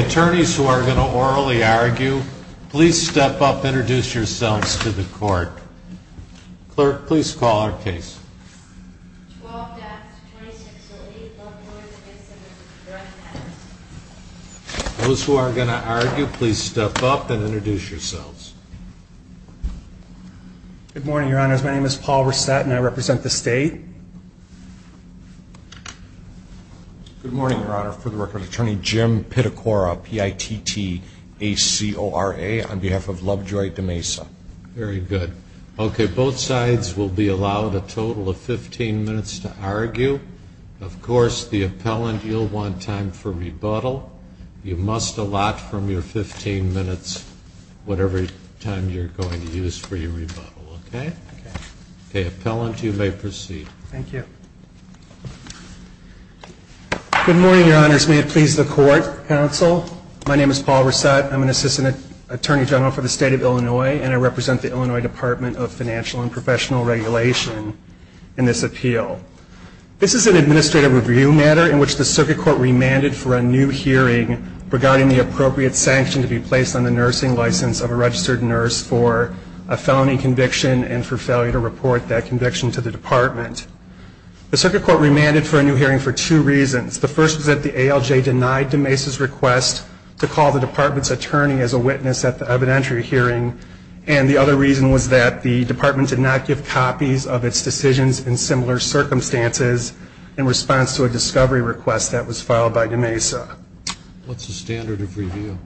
Attorneys who are going to orally argue, please step up and introduce yourselves to the court. Clerk, please call our case. Those who are going to argue, please step up and introduce yourselves. Good morning, your honors. My name is Paul Rissett and I represent the state. Good morning, your honor. For the record, attorney Jim Pittacora, P-I-T-T-A-C-O-R-A, on behalf of Lovejoy de Mesa. Very good. Okay, both sides will be allowed a total of 15 minutes to argue. Of course, the appellant, you'll want time for rebuttal. You must allot from your 15 minutes whatever time you're going to use for your rebuttal, okay? Okay. The appellant, you may proceed. Thank you. Good morning, your honors. May it please the court, counsel. My name is Paul Rissett. I'm an assistant attorney general for the state of Illinois, and I represent the Illinois Department of Financial and Professional Regulation in this appeal. This is an administrative review matter in which the circuit court remanded for a new hearing regarding the appropriate sanction to be placed on the nursing license of a registered nurse for a felony conviction and for failure to report that conviction to the department. The circuit court remanded for a new hearing for two reasons. The first was that the ALJ denied de Mesa's request to call the department's attorney as a witness at the evidentiary hearing, and the other reason was that the department did not give copies of its decisions in similar circumstances in response to a discovery request that was filed by de Mesa. What's the standard of review?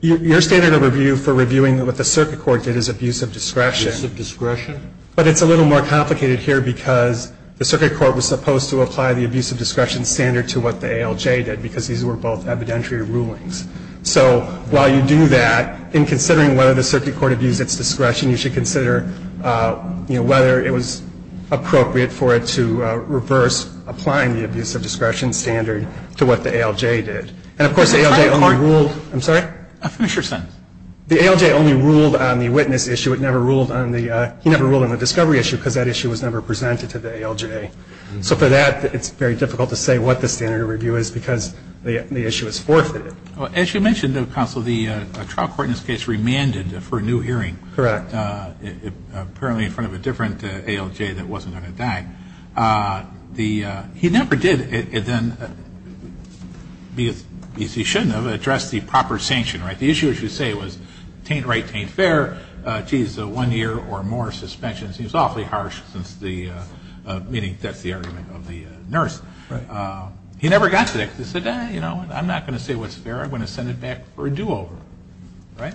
Your standard of review for reviewing what the circuit court did is abuse of discretion. Abuse of discretion? But it's a little more complicated here because the circuit court was supposed to apply the abuse of discretion standard to what the ALJ did because these were both evidentiary rulings. So while you do that, in considering whether the circuit court abused its discretion, you should consider, you know, whether it was appropriate for it to reverse applying the abuse of discretion standard to what the ALJ did. And, of course, the ALJ only ruled on the witness issue. It never ruled on the discovery issue because that issue was never presented to the ALJ. So for that, it's very difficult to say what the standard of review is because the issue is forfeited. As you mentioned, counsel, the trial court in this case remanded for a new hearing. Correct. Apparently in front of a different ALJ that wasn't going to die. He never did then, because he shouldn't have, address the proper sanction, right? The issue, as you say, was taint right, taint fair. Geez, one year or more suspensions. He was awfully harsh since the meeting. That's the argument of the nurse. Right. He never got to that. He said, you know, I'm not going to say what's fair. I'm going to send it back for a do-over. Right?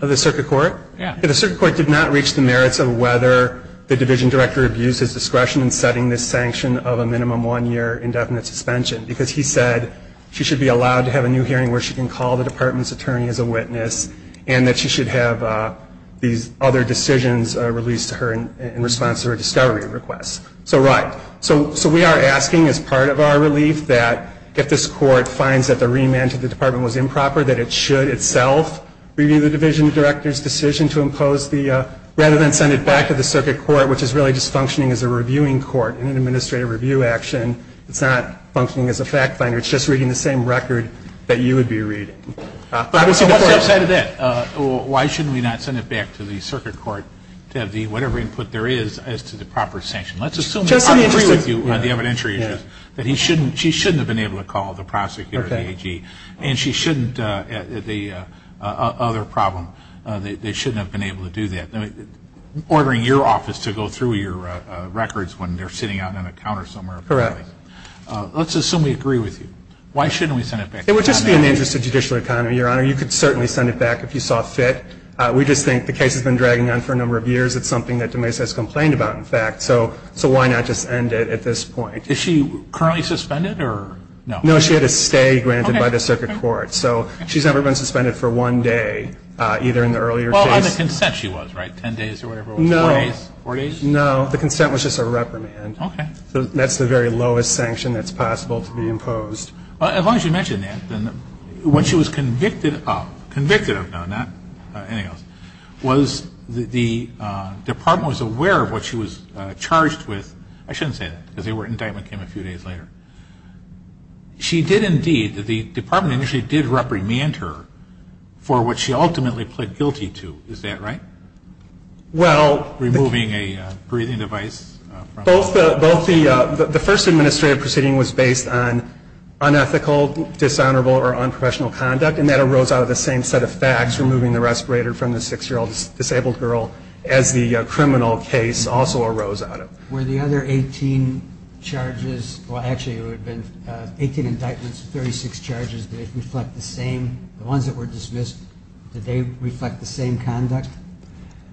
Of the circuit court? Yeah. The circuit court did not reach the merits of whether the division director abused his discretion in setting this sanction of a minimum one-year indefinite suspension, because he said she should be allowed to have a new hearing where she can call the department's attorney as a witness and that she should have these other decisions released to her in response to her discovery request. So, right. So we are asking as part of our relief that if this court finds that the remand to the department was improper, that it should itself review the division director's decision to impose the, rather than send it back to the circuit court, which is really just functioning as a reviewing court in an administrative review action. It's not functioning as a fact finder. It's just reading the same record that you would be reading. So what's the other side of that? Why shouldn't we not send it back to the circuit court to have whatever input there is as to the proper sanction? Let's assume that I agree with you on the evidentiary issues, that she shouldn't have been able to call the prosecutor or the AG, and she shouldn't, the other problem, they shouldn't have been able to do that. Ordering your office to go through your records when they're sitting out on a counter somewhere. Correct. Let's assume we agree with you. Why shouldn't we send it back? It would just be in the interest of judicial economy, Your Honor. You could certainly send it back if you saw fit. We just think the case has been dragging on for a number of years. It's something that DeMais has complained about, in fact. So why not just end it at this point? Is she currently suspended or no? No, she had a stay granted by the circuit court. So she's never been suspended for one day, either in the earlier case. On the consent she was, right? Ten days or whatever it was? No. Four days? No, the consent was just a reprimand. Okay. That's the very lowest sanction that's possible to be imposed. As long as you mention that, then when she was convicted of, convicted of, no, not anything else, was the department was aware of what she was charged with. I shouldn't say that because the indictment came a few days later. She did indeed, the department initially did reprimand her for what she ultimately pled guilty to. Is that right? Well. Removing a breathing device. Both the, the first administrative proceeding was based on unethical, dishonorable, or unprofessional conduct, and that arose out of the same set of facts, removing the respirator from the six-year-old disabled girl as the criminal case also arose out of. Were the other 18 charges, well, actually it would have been 18 indictments, 36 charges, did they reflect the same, the ones that were dismissed, did they reflect the same conduct?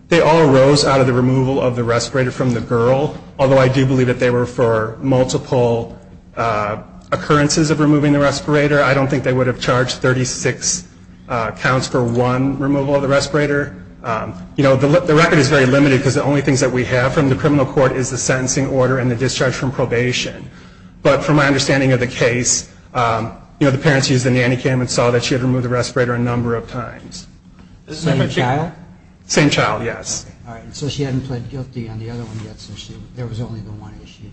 They all arose out of the removal of the respirator from the girl, although I do believe that they were for multiple occurrences of removing the respirator. I don't think they would have charged 36 counts for one removal of the respirator. You know, the record is very limited because the only things that we have from the criminal court is the sentencing order and the discharge from probation. But from my understanding of the case, you know, the parents used the nanny cam and saw that she had removed the respirator a number of times. Same child? Same child, yes. All right. So she hadn't pled guilty on the other one yet, so there was only the one issue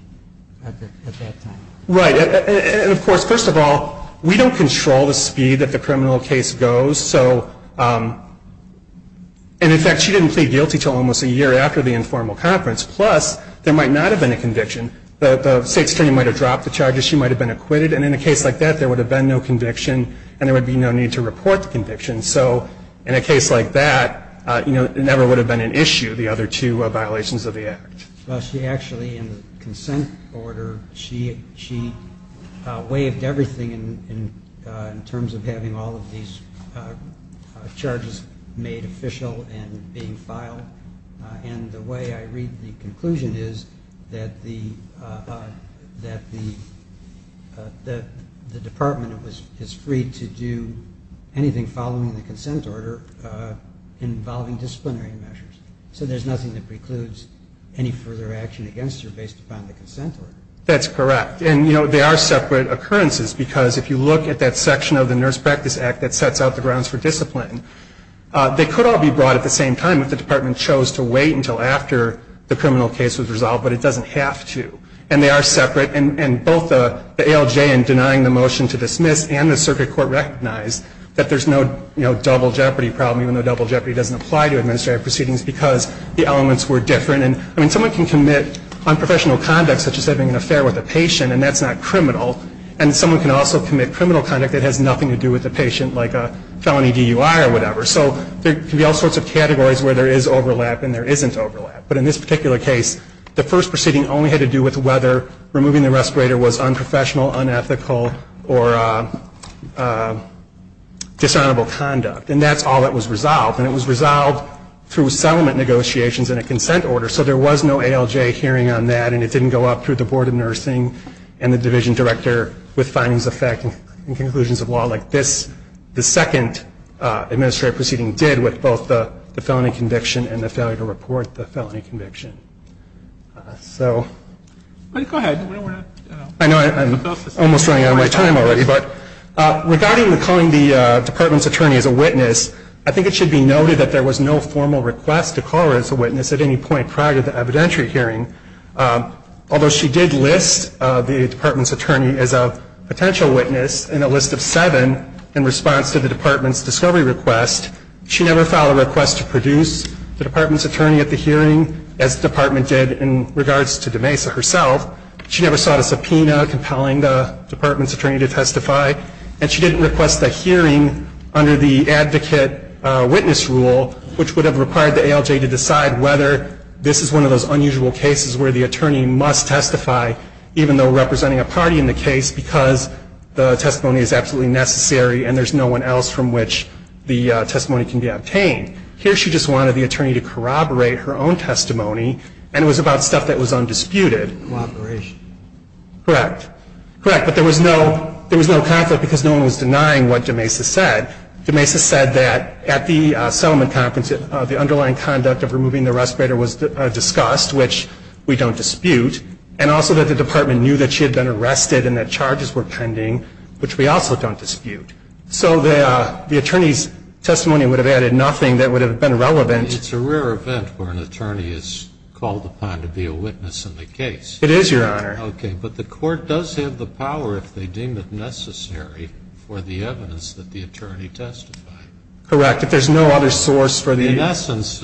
at that time. Right. And, of course, first of all, we don't control the speed that the criminal case goes. So, and, in fact, she didn't plead guilty until almost a year after the informal conference. Plus, there might not have been a conviction. The state's attorney might have dropped the charges. She might have been acquitted. And in a case like that, there would have been no conviction and there would be no need to report the conviction. So in a case like that, you know, it never would have been an issue, the other two violations of the act. Well, she actually, in the consent order, she waived everything in terms of having all of these charges made official and being filed. And the way I read the conclusion is that the department is free to do anything following the consent order involving disciplinary measures. So there's nothing that precludes any further action against her based upon the consent order? That's correct. And, you know, they are separate occurrences because if you look at that section of the Nurse Practice Act that sets out the grounds for discipline, they could all be brought at the same time if the department chose to wait until after the criminal case was resolved, but it doesn't have to. And they are separate. And both the ALJ in denying the motion to dismiss and the circuit court recognized that there's no, you know, double jeopardy problem, even though double jeopardy doesn't apply to administrative proceedings because the elements were different. And, I mean, someone can commit unprofessional conduct such as having an affair with a patient and that's not criminal, and someone can also commit criminal conduct that has nothing to do with the patient like a felony DUI or whatever. So there can be all sorts of categories where there is overlap and there isn't overlap. But in this particular case, the first proceeding only had to do with whether removing the respirator was unprofessional, unethical, or dishonorable conduct. And that's all that was resolved. And it was resolved through settlement negotiations and a consent order. So there was no ALJ hearing on that, and it didn't go up through the Board of Nursing and the division director with findings affecting conclusions of law like this. The second administrative proceeding did with both the felony conviction and the failure to report the felony conviction. So... Go ahead. I know I'm almost running out of my time already. Regarding calling the department's attorney as a witness, I think it should be noted that there was no formal request to call her as a witness at any point prior to the evidentiary hearing. Although she did list the department's attorney as a potential witness in a list of seven in response to the department's discovery request, she never filed a request to produce the department's attorney at the hearing as the department did in regards to DeMesa herself. She never sought a subpoena compelling the department's attorney to testify, and she didn't request a hearing under the advocate witness rule, which would have required the ALJ to decide whether this is one of those unusual cases where the attorney must testify, even though representing a party in the case, because the testimony is absolutely necessary and there's no one else from which the testimony can be obtained. Here she just wanted the attorney to corroborate her own testimony, and it was about stuff that was undisputed. Cooperation. Correct. Correct. But there was no conflict because no one was denying what DeMesa said. DeMesa said that at the settlement conference, the underlying conduct of removing the respirator was discussed, which we don't dispute, and also that the department knew that she had been arrested and that charges were pending, which we also don't dispute. So the attorney's testimony would have added nothing that would have been relevant. It's a rare event where an attorney is called upon to be a witness in the case. It is, Your Honor. Okay. But the court does have the power, if they deem it necessary, for the evidence that the attorney testified. Correct. If there's no other source for the ---- In essence,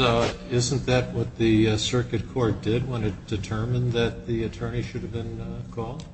isn't that what the circuit court did when it determined that the attorney should have been called?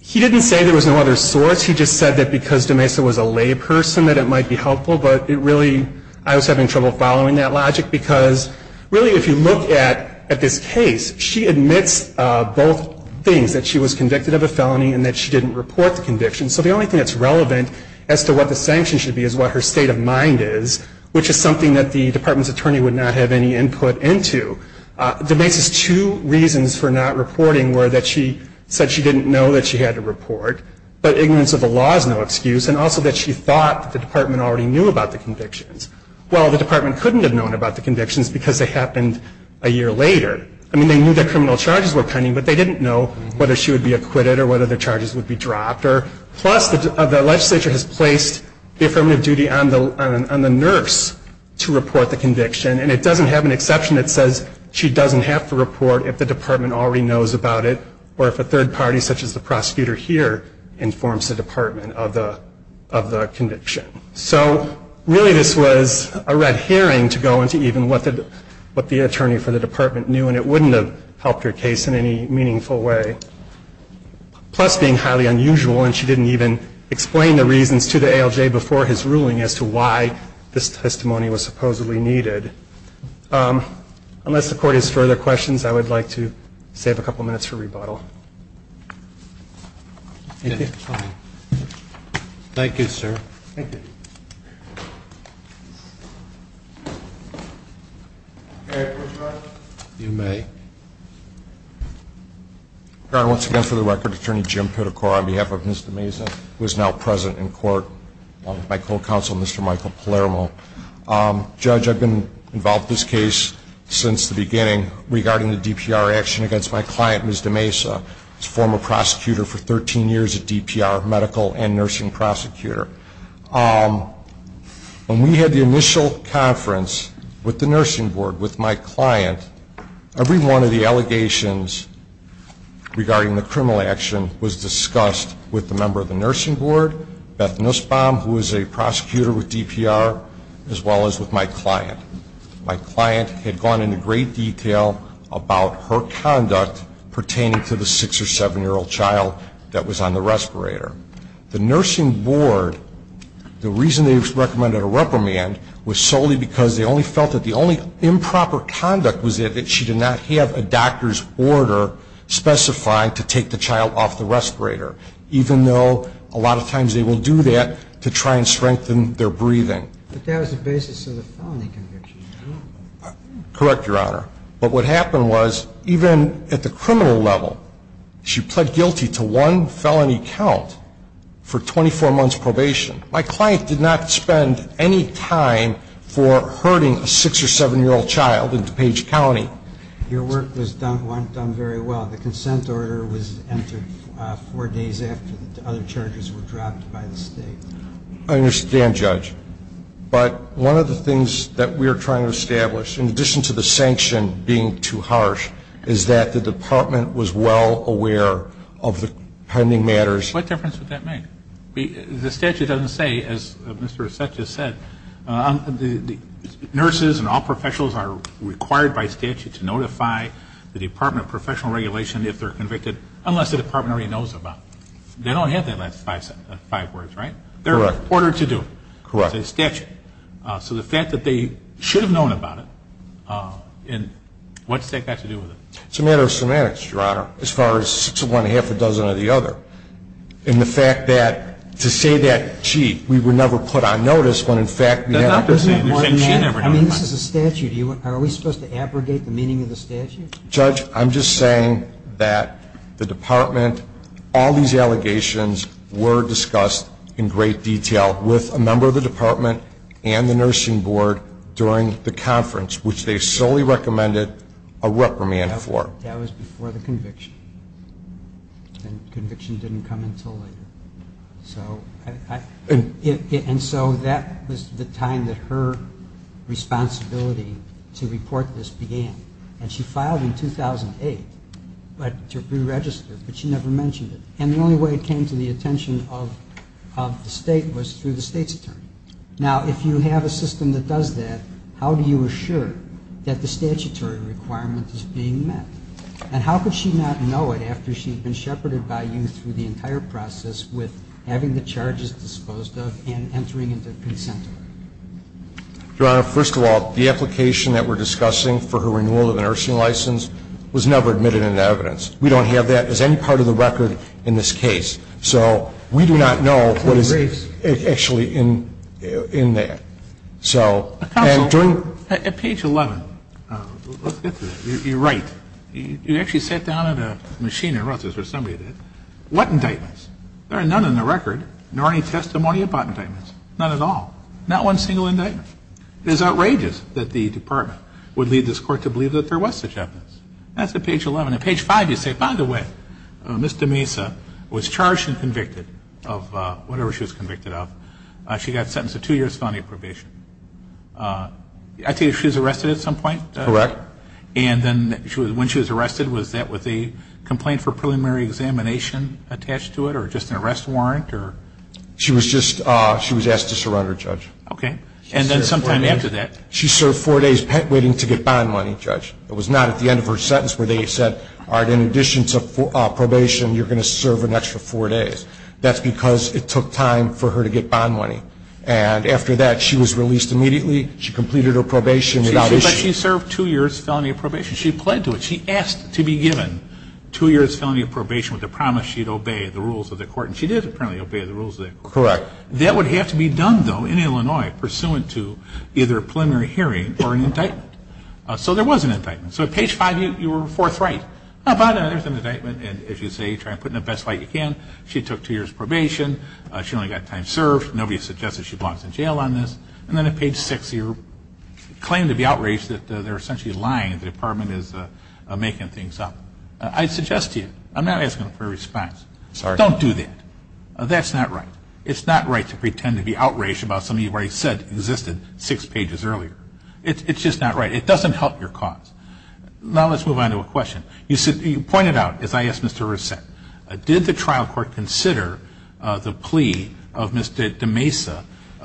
He didn't say there was no other source. He just said that because DeMesa was a layperson, that it might be helpful. But it really ---- I was having trouble following that logic, because really if you look at this case, she admits both things, that she was convicted of a felony and that she didn't report the conviction. So the only thing that's relevant as to what the sanction should be is what her state of mind is, which is something that the department's attorney would not have any input into. DeMesa's two reasons for not reporting were that she said she didn't know that she had to report, but ignorance of the law is no excuse, and also that she thought that the department already knew about the convictions. Well, the department couldn't have known about the convictions because they happened a year later. I mean, they knew that criminal charges were pending, but they didn't know whether she would be acquitted or whether the charges would be dropped. Plus, the legislature has placed the affirmative duty on the nurse to report the conviction, and it doesn't have an exception that says she doesn't have to report if the department already knows about it or if a third party, such as the prosecutor here, informs the department of the conviction. So really this was a red herring to go into even what the attorney for the department knew, and it wouldn't have helped her case in any meaningful way. Plus, being highly unusual, and she didn't even explain the reasons to the ALJ before his ruling as to why this testimony was supposedly needed. Unless the court has further questions, I would like to save a couple minutes for rebuttal. Thank you for coming. Thank you, sir. Thank you. May I have a question? You may. Once again, for the record, Attorney Jim Pittacora on behalf of Ms. DeMesa, who is now present in court, my co-counsel, Mr. Michael Palermo. Judge, I've been involved in this case since the beginning regarding the DPR action against my client, Ms. DeMesa. She's a former prosecutor for 13 years at DPR, a medical and nursing prosecutor. When we had the initial conference with the nursing board, with my client, every one of the allegations regarding the criminal action was discussed with a member of the nursing board, Beth Nussbaum, who is a prosecutor with DPR, as well as with my client. My client had gone into great detail about her conduct pertaining to the six- or seven-year-old child that was on the respirator. The nursing board, the reason they recommended a reprimand was solely because they only felt that the only improper conduct was that she did not have a doctor's order specifying to take the child off the respirator, even though a lot of times they will do that to try and strengthen their breathing. But that was the basis of the felony conviction. Correct, Your Honor. But what happened was, even at the criminal level, she pled guilty to one felony count for 24 months' probation. My client did not spend any time for hurting a six- or seven-year-old child in DuPage County. Your work was done very well. The consent order was entered four days after the other charges were dropped by the State. I understand, Judge. But one of the things that we are trying to establish, in addition to the sanction being too harsh, is that the Department was well aware of the pending matters. What difference would that make? The statute doesn't say, as Mr. Assett just said, nurses and all professionals are required by statute to notify the Department of Professional Regulation if they're convicted, unless the Department already knows about it. They don't have that last five words, right? Correct. They're ordered to do it. Correct. It's a statute. So the fact that they should have known about it, and what's that got to do with it? It's a matter of semantics, Your Honor, as far as six of one, half a dozen of the other. And the fact that, to say that, gee, we were never put on notice when, in fact, we had to. I mean, this is a statute. Are we supposed to abrogate the meaning of the statute? Judge, I'm just saying that the Department, all these allegations were discussed in great detail with a member of the Department and the Nursing Board during the conference, which they solely recommended a reprimand for. That was before the conviction. And conviction didn't come until later. And so that was the time that her responsibility to report this began. And she filed in 2008 to preregister, but she never mentioned it. And the only way it came to the attention of the State was through the State's attorney. Now, if you have a system that does that, how do you assure that the statutory requirement is being met? And how could she not know it after she had been shepherded by you through the entire process with having the charges disposed of and entering into consent? Your Honor, first of all, the application that we're discussing for her renewal of a nursing license was never admitted into evidence. We don't have that as any part of the record in this case. So we do not know what is actually in there. So, and during At page 11, you're right. You actually sat down at a machine and wrote this, or somebody did. What indictments? There are none in the record, nor any testimony about indictments. None at all. Not one single indictment. It is outrageous that the Department would lead this Court to believe that there was such evidence. That's at page 11. At page 5, you say, by the way, Ms. DeMesa was charged and convicted of whatever she was convicted of. She got sentenced to two years' felony probation. I take it she was arrested at some point? Correct. And then when she was arrested, was that with a complaint for preliminary examination attached to it or just an arrest warrant? She was just asked to surrender, Judge. Okay. And then sometime after that? She served four days waiting to get bond money, Judge. It was not at the end of her sentence where they said, all right, in addition to probation, you're going to serve an extra four days. That's because it took time for her to get bond money. And after that, she was released immediately. She completed her probation without issue. But she served two years' felony probation. She pled to it. She asked to be given two years' felony probation with the promise she would obey the rules of the Court. And she did apparently obey the rules of the Court. Correct. That would have to be done, though, in Illinois, pursuant to either a preliminary hearing or an indictment. So there was an indictment. So at page 5, you were forthright. There's an indictment, and as you say, try to put it in the best light you can. She took two years' probation. She only got time served. Nobody suggested she belongs in jail on this. And then at page 6, you claim to be outraged that they're essentially lying, that the Department is making things up. I suggest to you, I'm not asking for a response. Sorry. Don't do that. That's not right. It's not right to pretend to be outraged about something you already said existed six pages earlier. It's just not right. It doesn't help your cause. Now let's move on to a question. You pointed out, as I asked Mr. Rousset, did the trial court consider the plea of Mr. DeMesa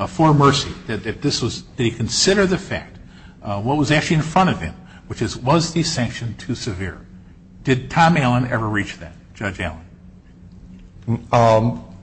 for mercy, that this was they consider the fact, what was actually in front of him, which is was the sanction too severe? Did Tom Allen ever reach that, Judge Allen?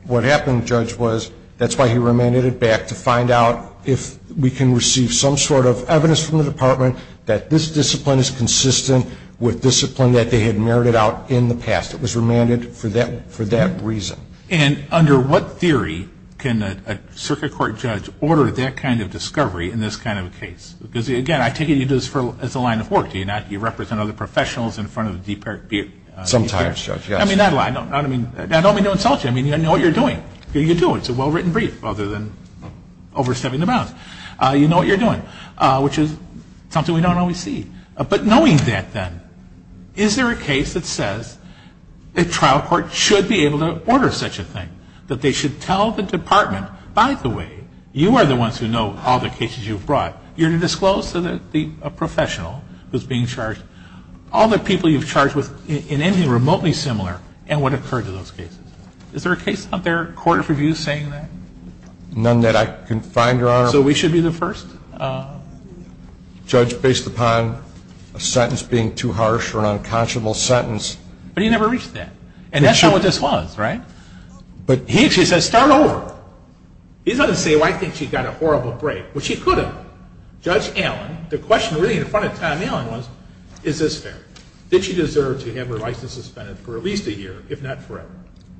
What happened, Judge, was that's why he remanded it back, to find out if we can receive some sort of evidence from the Department that this discipline is consistent with discipline that they had merited out in the past. It was remanded for that reason. And under what theory can a circuit court judge order that kind of discovery in this kind of a case? Because, again, I take it you do this as a line of work, do you not? You represent other professionals in front of the department. Sometimes, Judge, yes. I mean, not a lot. I don't mean to insult you. I mean, I know what you're doing. You do. It's a well-written brief, other than overstepping the bounds. You know what you're doing, which is something we don't always see. But knowing that, then, is there a case that says a trial court should be able to order such a thing, that they should tell the department, by the way, you are the ones who know all the cases you've brought. You're to disclose to the professional who's being charged all the people you've charged with anything remotely similar and what occurred to those cases. Is there a case out there, a court of review saying that? None that I can find, Your Honor. So we should be the first? Judge, based upon a sentence being too harsh or an unconscionable sentence. But he never reached that. And that's not what this was, right? But he actually says, start over. He doesn't say, well, I think she got a horrible break. Well, she could have. Judge Allen, the question really in front of Tom Allen was, is this fair? Did she deserve to have her license suspended for at least a year, if not forever?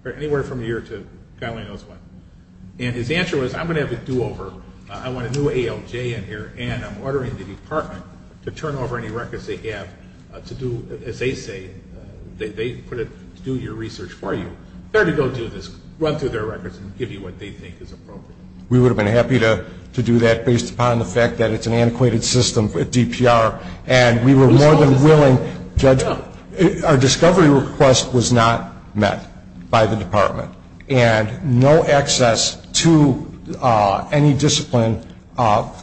Or anywhere from a year to God only knows when. And his answer was, I'm going to have a do-over. I want a new ALJ in here. And I'm ordering the department to turn over any records they have to do, as they say, they put it to do your research for you. They're to go do this, run through their records and give you what they think is appropriate. We would have been happy to do that based upon the fact that it's an antiquated system at DPR. And we were more than willing, Judge, our discovery request was not met by the department. And no access to any discipline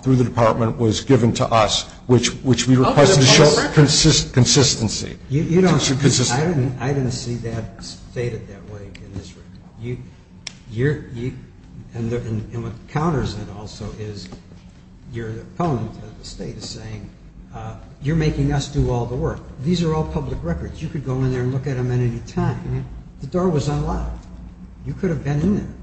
through the department was given to us, which we requested to show consistency. I didn't see that stated that way in this report. And what counters it also is your opponent, the state, is saying, you're making us do all the work. These are all public records. You could go in there and look at them at any time. The door was unlocked. You could have been in there.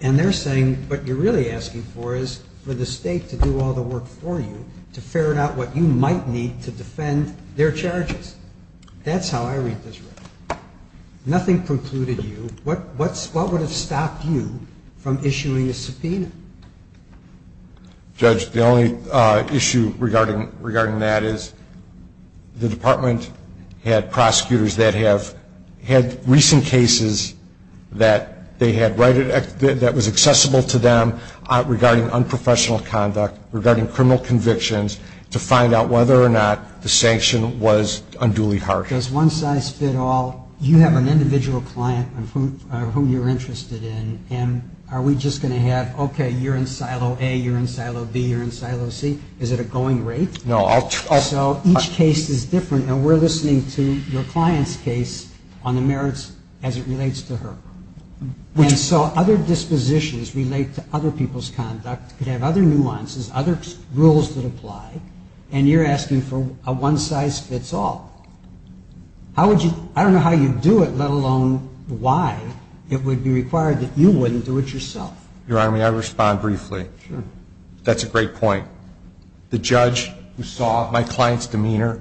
And they're saying what you're really asking for is for the state to do all the work for you, to ferret out what you might need to defend their charges. That's how I read this record. Nothing precluded you. What would have stopped you from issuing a subpoena? Judge, the only issue regarding that is the department had prosecutors that have had recent cases that was accessible to them regarding unprofessional conduct, regarding criminal convictions, to find out whether or not the sanction was unduly harsh. Does one size fit all? You have an individual client whom you're interested in. And are we just going to have, okay, you're in silo A, you're in silo B, you're in silo C? Is it a going rate? No. So each case is different. And we're listening to your client's case on the merits as it relates to her. And so other dispositions relate to other people's conduct, could have other nuances, other rules that apply, and you're asking for a one size fits all. I don't know how you'd do it, let alone why it would be required that you wouldn't do it yourself. Your Honor, may I respond briefly? Sure. That's a great point. The judge who saw my client's demeanor,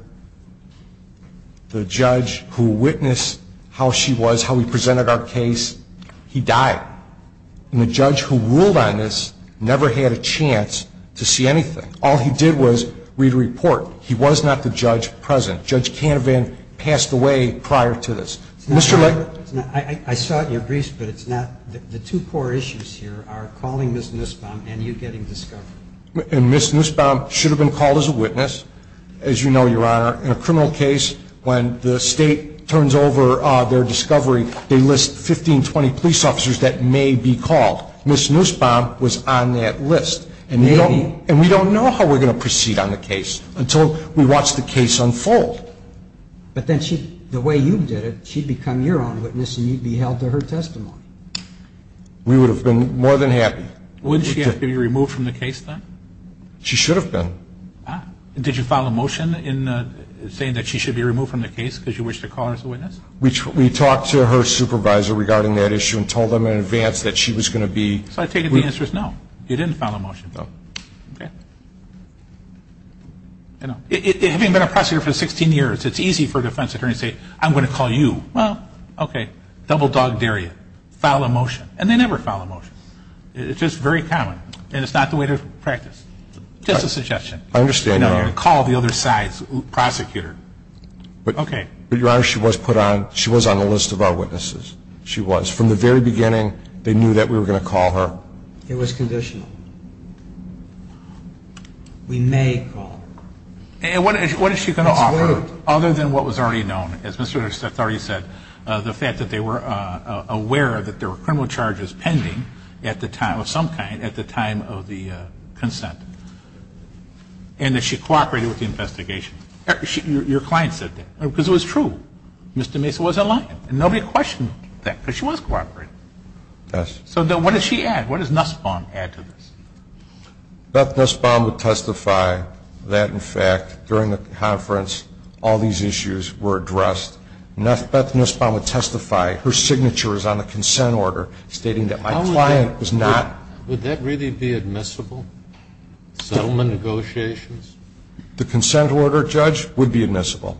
the judge who witnessed how she was, how we presented our case, he died. And the judge who ruled on this never had a chance to see anything. All he did was read a report. He was not the judge present. Judge Canavan passed away prior to this. I saw it in your briefs, but the two core issues here are calling Ms. Nussbaum and you getting discovered. And Ms. Nussbaum should have been called as a witness, as you know, Your Honor. In a criminal case, when the State turns over their discovery, they list 15, 20 police officers that may be called. Ms. Nussbaum was on that list. Maybe. And we don't know how we're going to proceed on the case until we watch the case unfold. But then the way you did it, she'd become your own witness and you'd be held to her testimony. We would have been more than happy. Wouldn't she have to be removed from the case then? She should have been. Did you file a motion saying that she should be removed from the case because you wished to call her as a witness? We talked to her supervisor regarding that issue and told them in advance that she was going to be. So I take it the answer is no. You didn't file a motion. No. Okay. Having been a prosecutor for 16 years, it's easy for a defense attorney to say, I'm going to call you. Well, okay. Double dog dare you. File a motion. And they never file a motion. It's just very common. And it's not the way to practice. Just a suggestion. I understand, Your Honor. Call the other side's prosecutor. Okay. But, Your Honor, she was put on, she was on the list of our witnesses. She was. From the very beginning, they knew that we were going to call her. It was conditional. We may call her. And what is she going to offer other than what was already known? As Mr. Winters already said, the fact that they were aware that there were criminal charges pending at the time, of some kind, at the time of the consent. And that she cooperated with the investigation. Your client said that. Because it was true. Mr. Mason was in line. And nobody questioned that. Because she was cooperating. Yes. So then what does she add? What does Nussbaum add to this? Beth Nussbaum would testify that, in fact, during the conference, all these issues were addressed. Beth Nussbaum would testify. Her signature is on the consent order stating that my client was not. Would that really be admissible? Settlement negotiations? The consent order, Judge, would be admissible.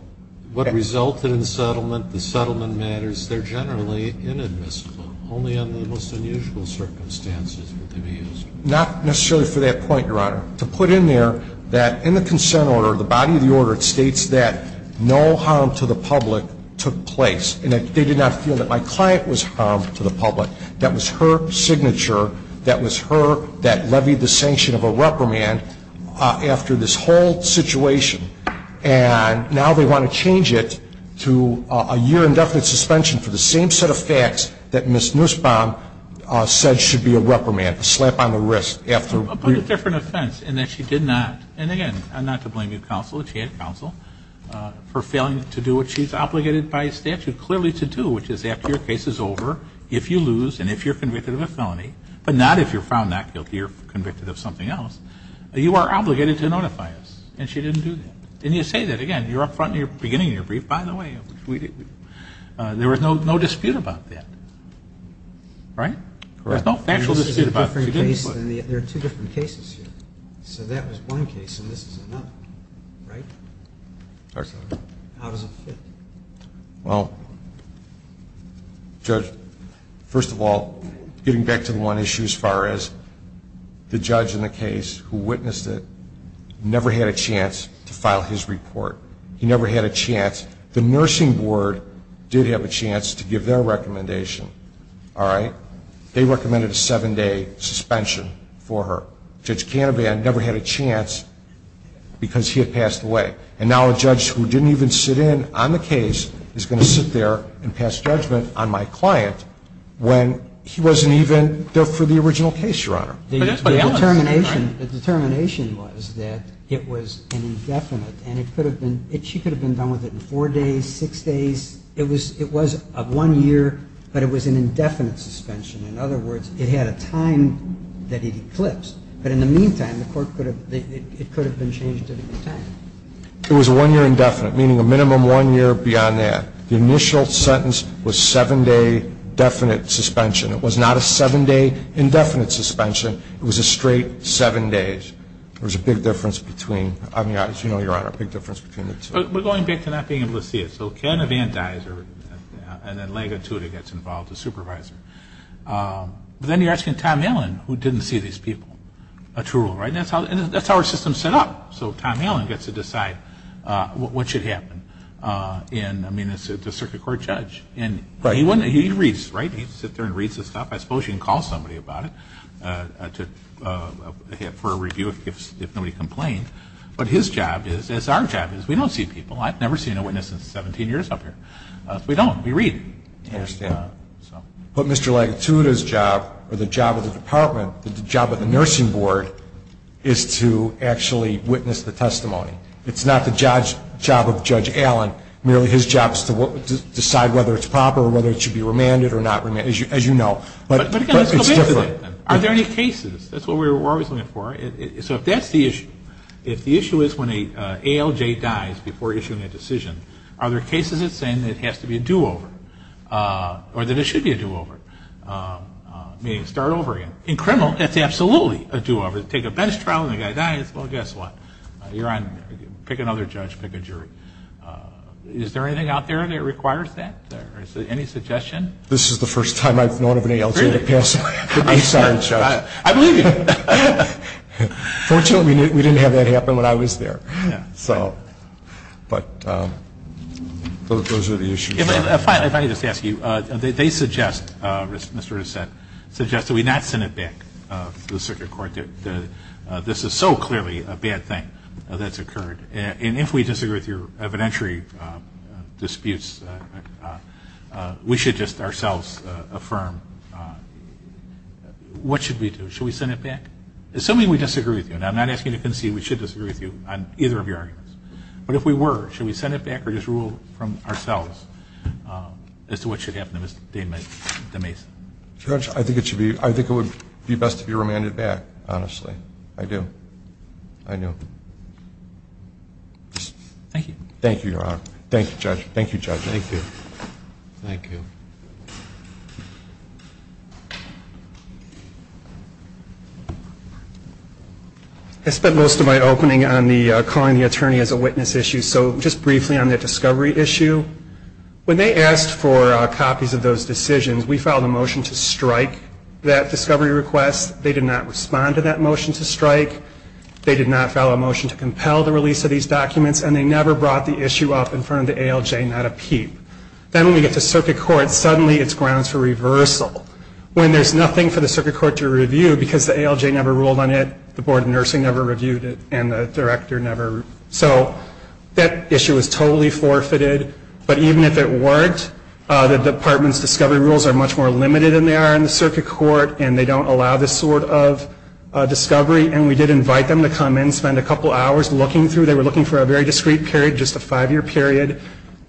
What resulted in settlement, the settlement matters, they're generally inadmissible. Only under the most unusual circumstances would they be used. Not necessarily for that point, Your Honor. To put in there that in the consent order, the body of the order, it states that no harm to the public took place. And that they did not feel that my client was harmed to the public. That was her signature. That was her that levied the sanction of a reprimand after this whole situation. And now they want to change it to a year indefinite suspension for the same set of facts that Ms. Nussbaum said should be a reprimand, a slap on the wrist. A different offense in that she did not, and again, not to blame you, counsel, she had counsel, for failing to do what she's obligated by statute clearly to do, which is after your case is over, if you lose and if you're convicted of a felony, but not if you're found not guilty or convicted of something else, you are obligated to notify us. And she didn't do that. And you say that again. You're up front in your beginning of your brief, by the way. There was no dispute about that. Right? There's no factual dispute about it. There are two different cases here. So that was one case and this is another. Right? How does it fit? Well, Judge, first of all, getting back to the one issue as far as the judge in the case who witnessed it never had a chance to file his report. He never had a chance. The nursing board did have a chance to give their recommendation. All right? They recommended a seven-day suspension for her. Judge Canavan never had a chance because he had passed away. And now a judge who didn't even sit in on the case is going to sit there and pass judgment on my client when he wasn't even there for the original case, Your Honor. The determination was that it was an indefinite and she could have been done with it in four days, six days. It was a one-year, but it was an indefinite suspension. In other words, it had a time that it eclipsed. But in the meantime, it could have been changed at any time. It was a one-year indefinite, meaning a minimum one year beyond that. The initial sentence was seven-day definite suspension. It was not a seven-day indefinite suspension. It was a straight seven days. There was a big difference between, as you know, Your Honor, a big difference between the two. We're going back to not being able to see it. So Canavan dies and then Lega Tuta gets involved, the supervisor. Then you're asking Tom Allen, who didn't see these people, a true rule, right? And that's how our system is set up. So Tom Allen gets to decide what should happen. I mean, it's the circuit court judge. And he reads, right? He sits there and reads the stuff. I suppose you can call somebody about it for a review if nobody complained. But his job is, as our job is, we don't see people. I've never seen a witness in 17 years up here. We don't. We read. I understand. But Mr. Lega Tuta's job or the job of the department, the job of the nursing board, is to actually witness the testimony. It's not the job of Judge Allen. Merely his job is to decide whether it's proper or whether it should be remanded or not remanded, as you know. But it's different. Are there any cases? That's what we're always looking for. So if that's the issue, if the issue is when an ALJ dies before issuing a decision, are there cases that say it has to be a do-over or that it should be a do-over, meaning start over again? In criminal, that's absolutely a do-over. Take a bench trial and the guy dies. Well, guess what? You're on. Pick another judge. Pick a jury. Is there anything out there that requires that? Any suggestion? This is the first time I've known of an ALJ that passed the bench trial. I believe you. Fortunately, we didn't have that happen when I was there. So, but those are the issues. If I may just ask you, they suggest, Mr. Reset, suggest that we not send it back to the circuit court. This is so clearly a bad thing that's occurred. And if we disagree with your evidentiary disputes, we should just ourselves affirm what should we do? Should we send it back? Assuming we disagree with you, and I'm not asking you to concede. We should disagree with you on either of your arguments. But if we were, should we send it back or just rule from ourselves as to what should happen to Mr. DeMais? Judge, I think it should be, I think it would be best to be remanded back, honestly. I do. I do. Thank you. Thank you, Your Honor. Thank you, Judge. Thank you, Judge. Thank you. Thank you. I spent most of my opening on the calling the attorney as a witness issue. So just briefly on the discovery issue. When they asked for copies of those decisions, we filed a motion to strike that discovery request. They did not respond to that motion to strike. They did not file a motion to compel the release of these documents. And they never brought the issue up in front of the ALJ, not a peep. Then when we get to circuit court, suddenly it's grounds for reversal when there's nothing for the circuit court to review because the ALJ never ruled on it, the Board of Nursing never reviewed it, and the director never. So that issue is totally forfeited. But even if it weren't, the department's discovery rules are much more limited than they are in the circuit court, and they don't allow this sort of discovery. And we did invite them to come in, spend a couple hours looking through. They were looking for a very discreet period, just a five-year period.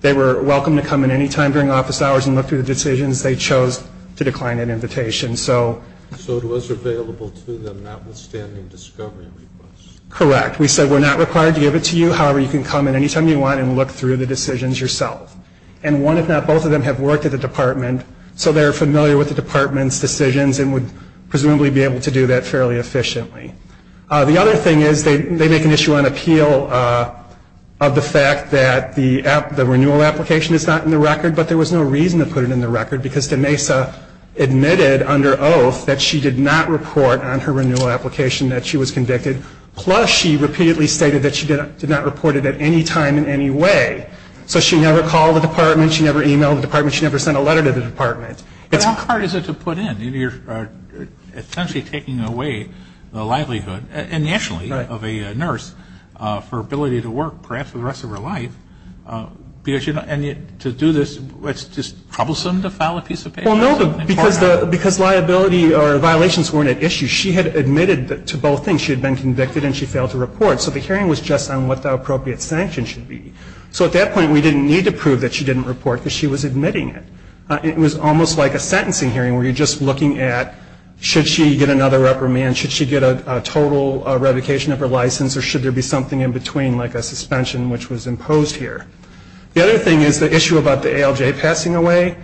They were welcome to come in any time during office hours and look through the decisions. They chose to decline an invitation. So it was available to them, notwithstanding discovery requests? Correct. We said we're not required to give it to you. However, you can come in any time you want and look through the decisions yourself. And one, if not both, of them have worked at the department, so they're familiar with the department's decisions and would presumably be able to do that fairly efficiently. The other thing is they make an issue on appeal of the fact that the renewal application is not in the record, but there was no reason to put it in the record because DeMesa admitted under oath that she did not report on her renewal application that she was convicted, plus she repeatedly stated that she did not report it at any time in any way. So she never called the department. She never emailed the department. She never sent a letter to the department. And how hard is it to put in? You're essentially taking away the livelihood, and nationally, of a nurse for ability to work perhaps for the rest of her life. And yet to do this, it's just troublesome to file a piece of paper? Well, no, because liability or violations weren't at issue. She had admitted to both things. She had been convicted, and she failed to report. So the hearing was just on what the appropriate sanction should be. So at that point, we didn't need to prove that she didn't report because she was admitting it. It was almost like a sentencing hearing where you're just looking at should she get another reprimand, should she get a total revocation of her license, or should there be something in between like a suspension which was imposed here. The other thing is the issue about the ALJ passing away.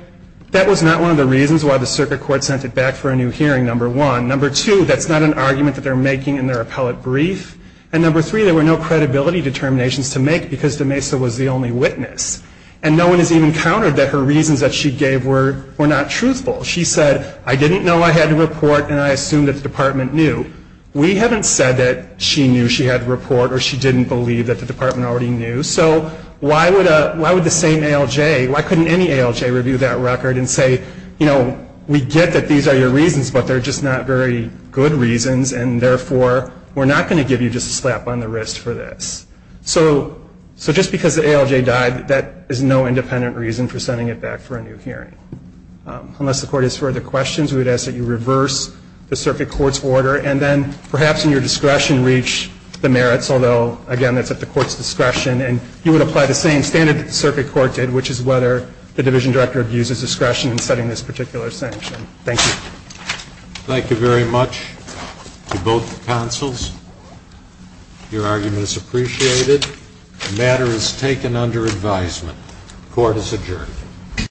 That was not one of the reasons why the circuit court sent it back for a new hearing, number one. Number two, that's not an argument that they're making in their appellate brief. And number three, there were no credibility determinations to make because DeMesa was the only witness. And no one has even countered that her reasons that she gave were not truthful. She said, I didn't know I had to report, and I assumed that the department knew. We haven't said that she knew she had to report or she didn't believe that the department already knew. So why would the same ALJ, why couldn't any ALJ review that record and say, you know, we get that these are your reasons, but they're just not very good reasons. And therefore, we're not going to give you just a slap on the wrist for this. So just because the ALJ died, that is no independent reason for sending it back for a new hearing. Unless the Court has further questions, we would ask that you reverse the circuit court's order and then perhaps in your discretion reach the merits, although, again, that's at the court's discretion. And you would apply the same standard that the circuit court did, which is whether the division director abuses discretion in setting this particular sanction. Thank you. Thank you very much to both counsels. Your argument is appreciated. The matter is taken under advisement. Court is adjourned.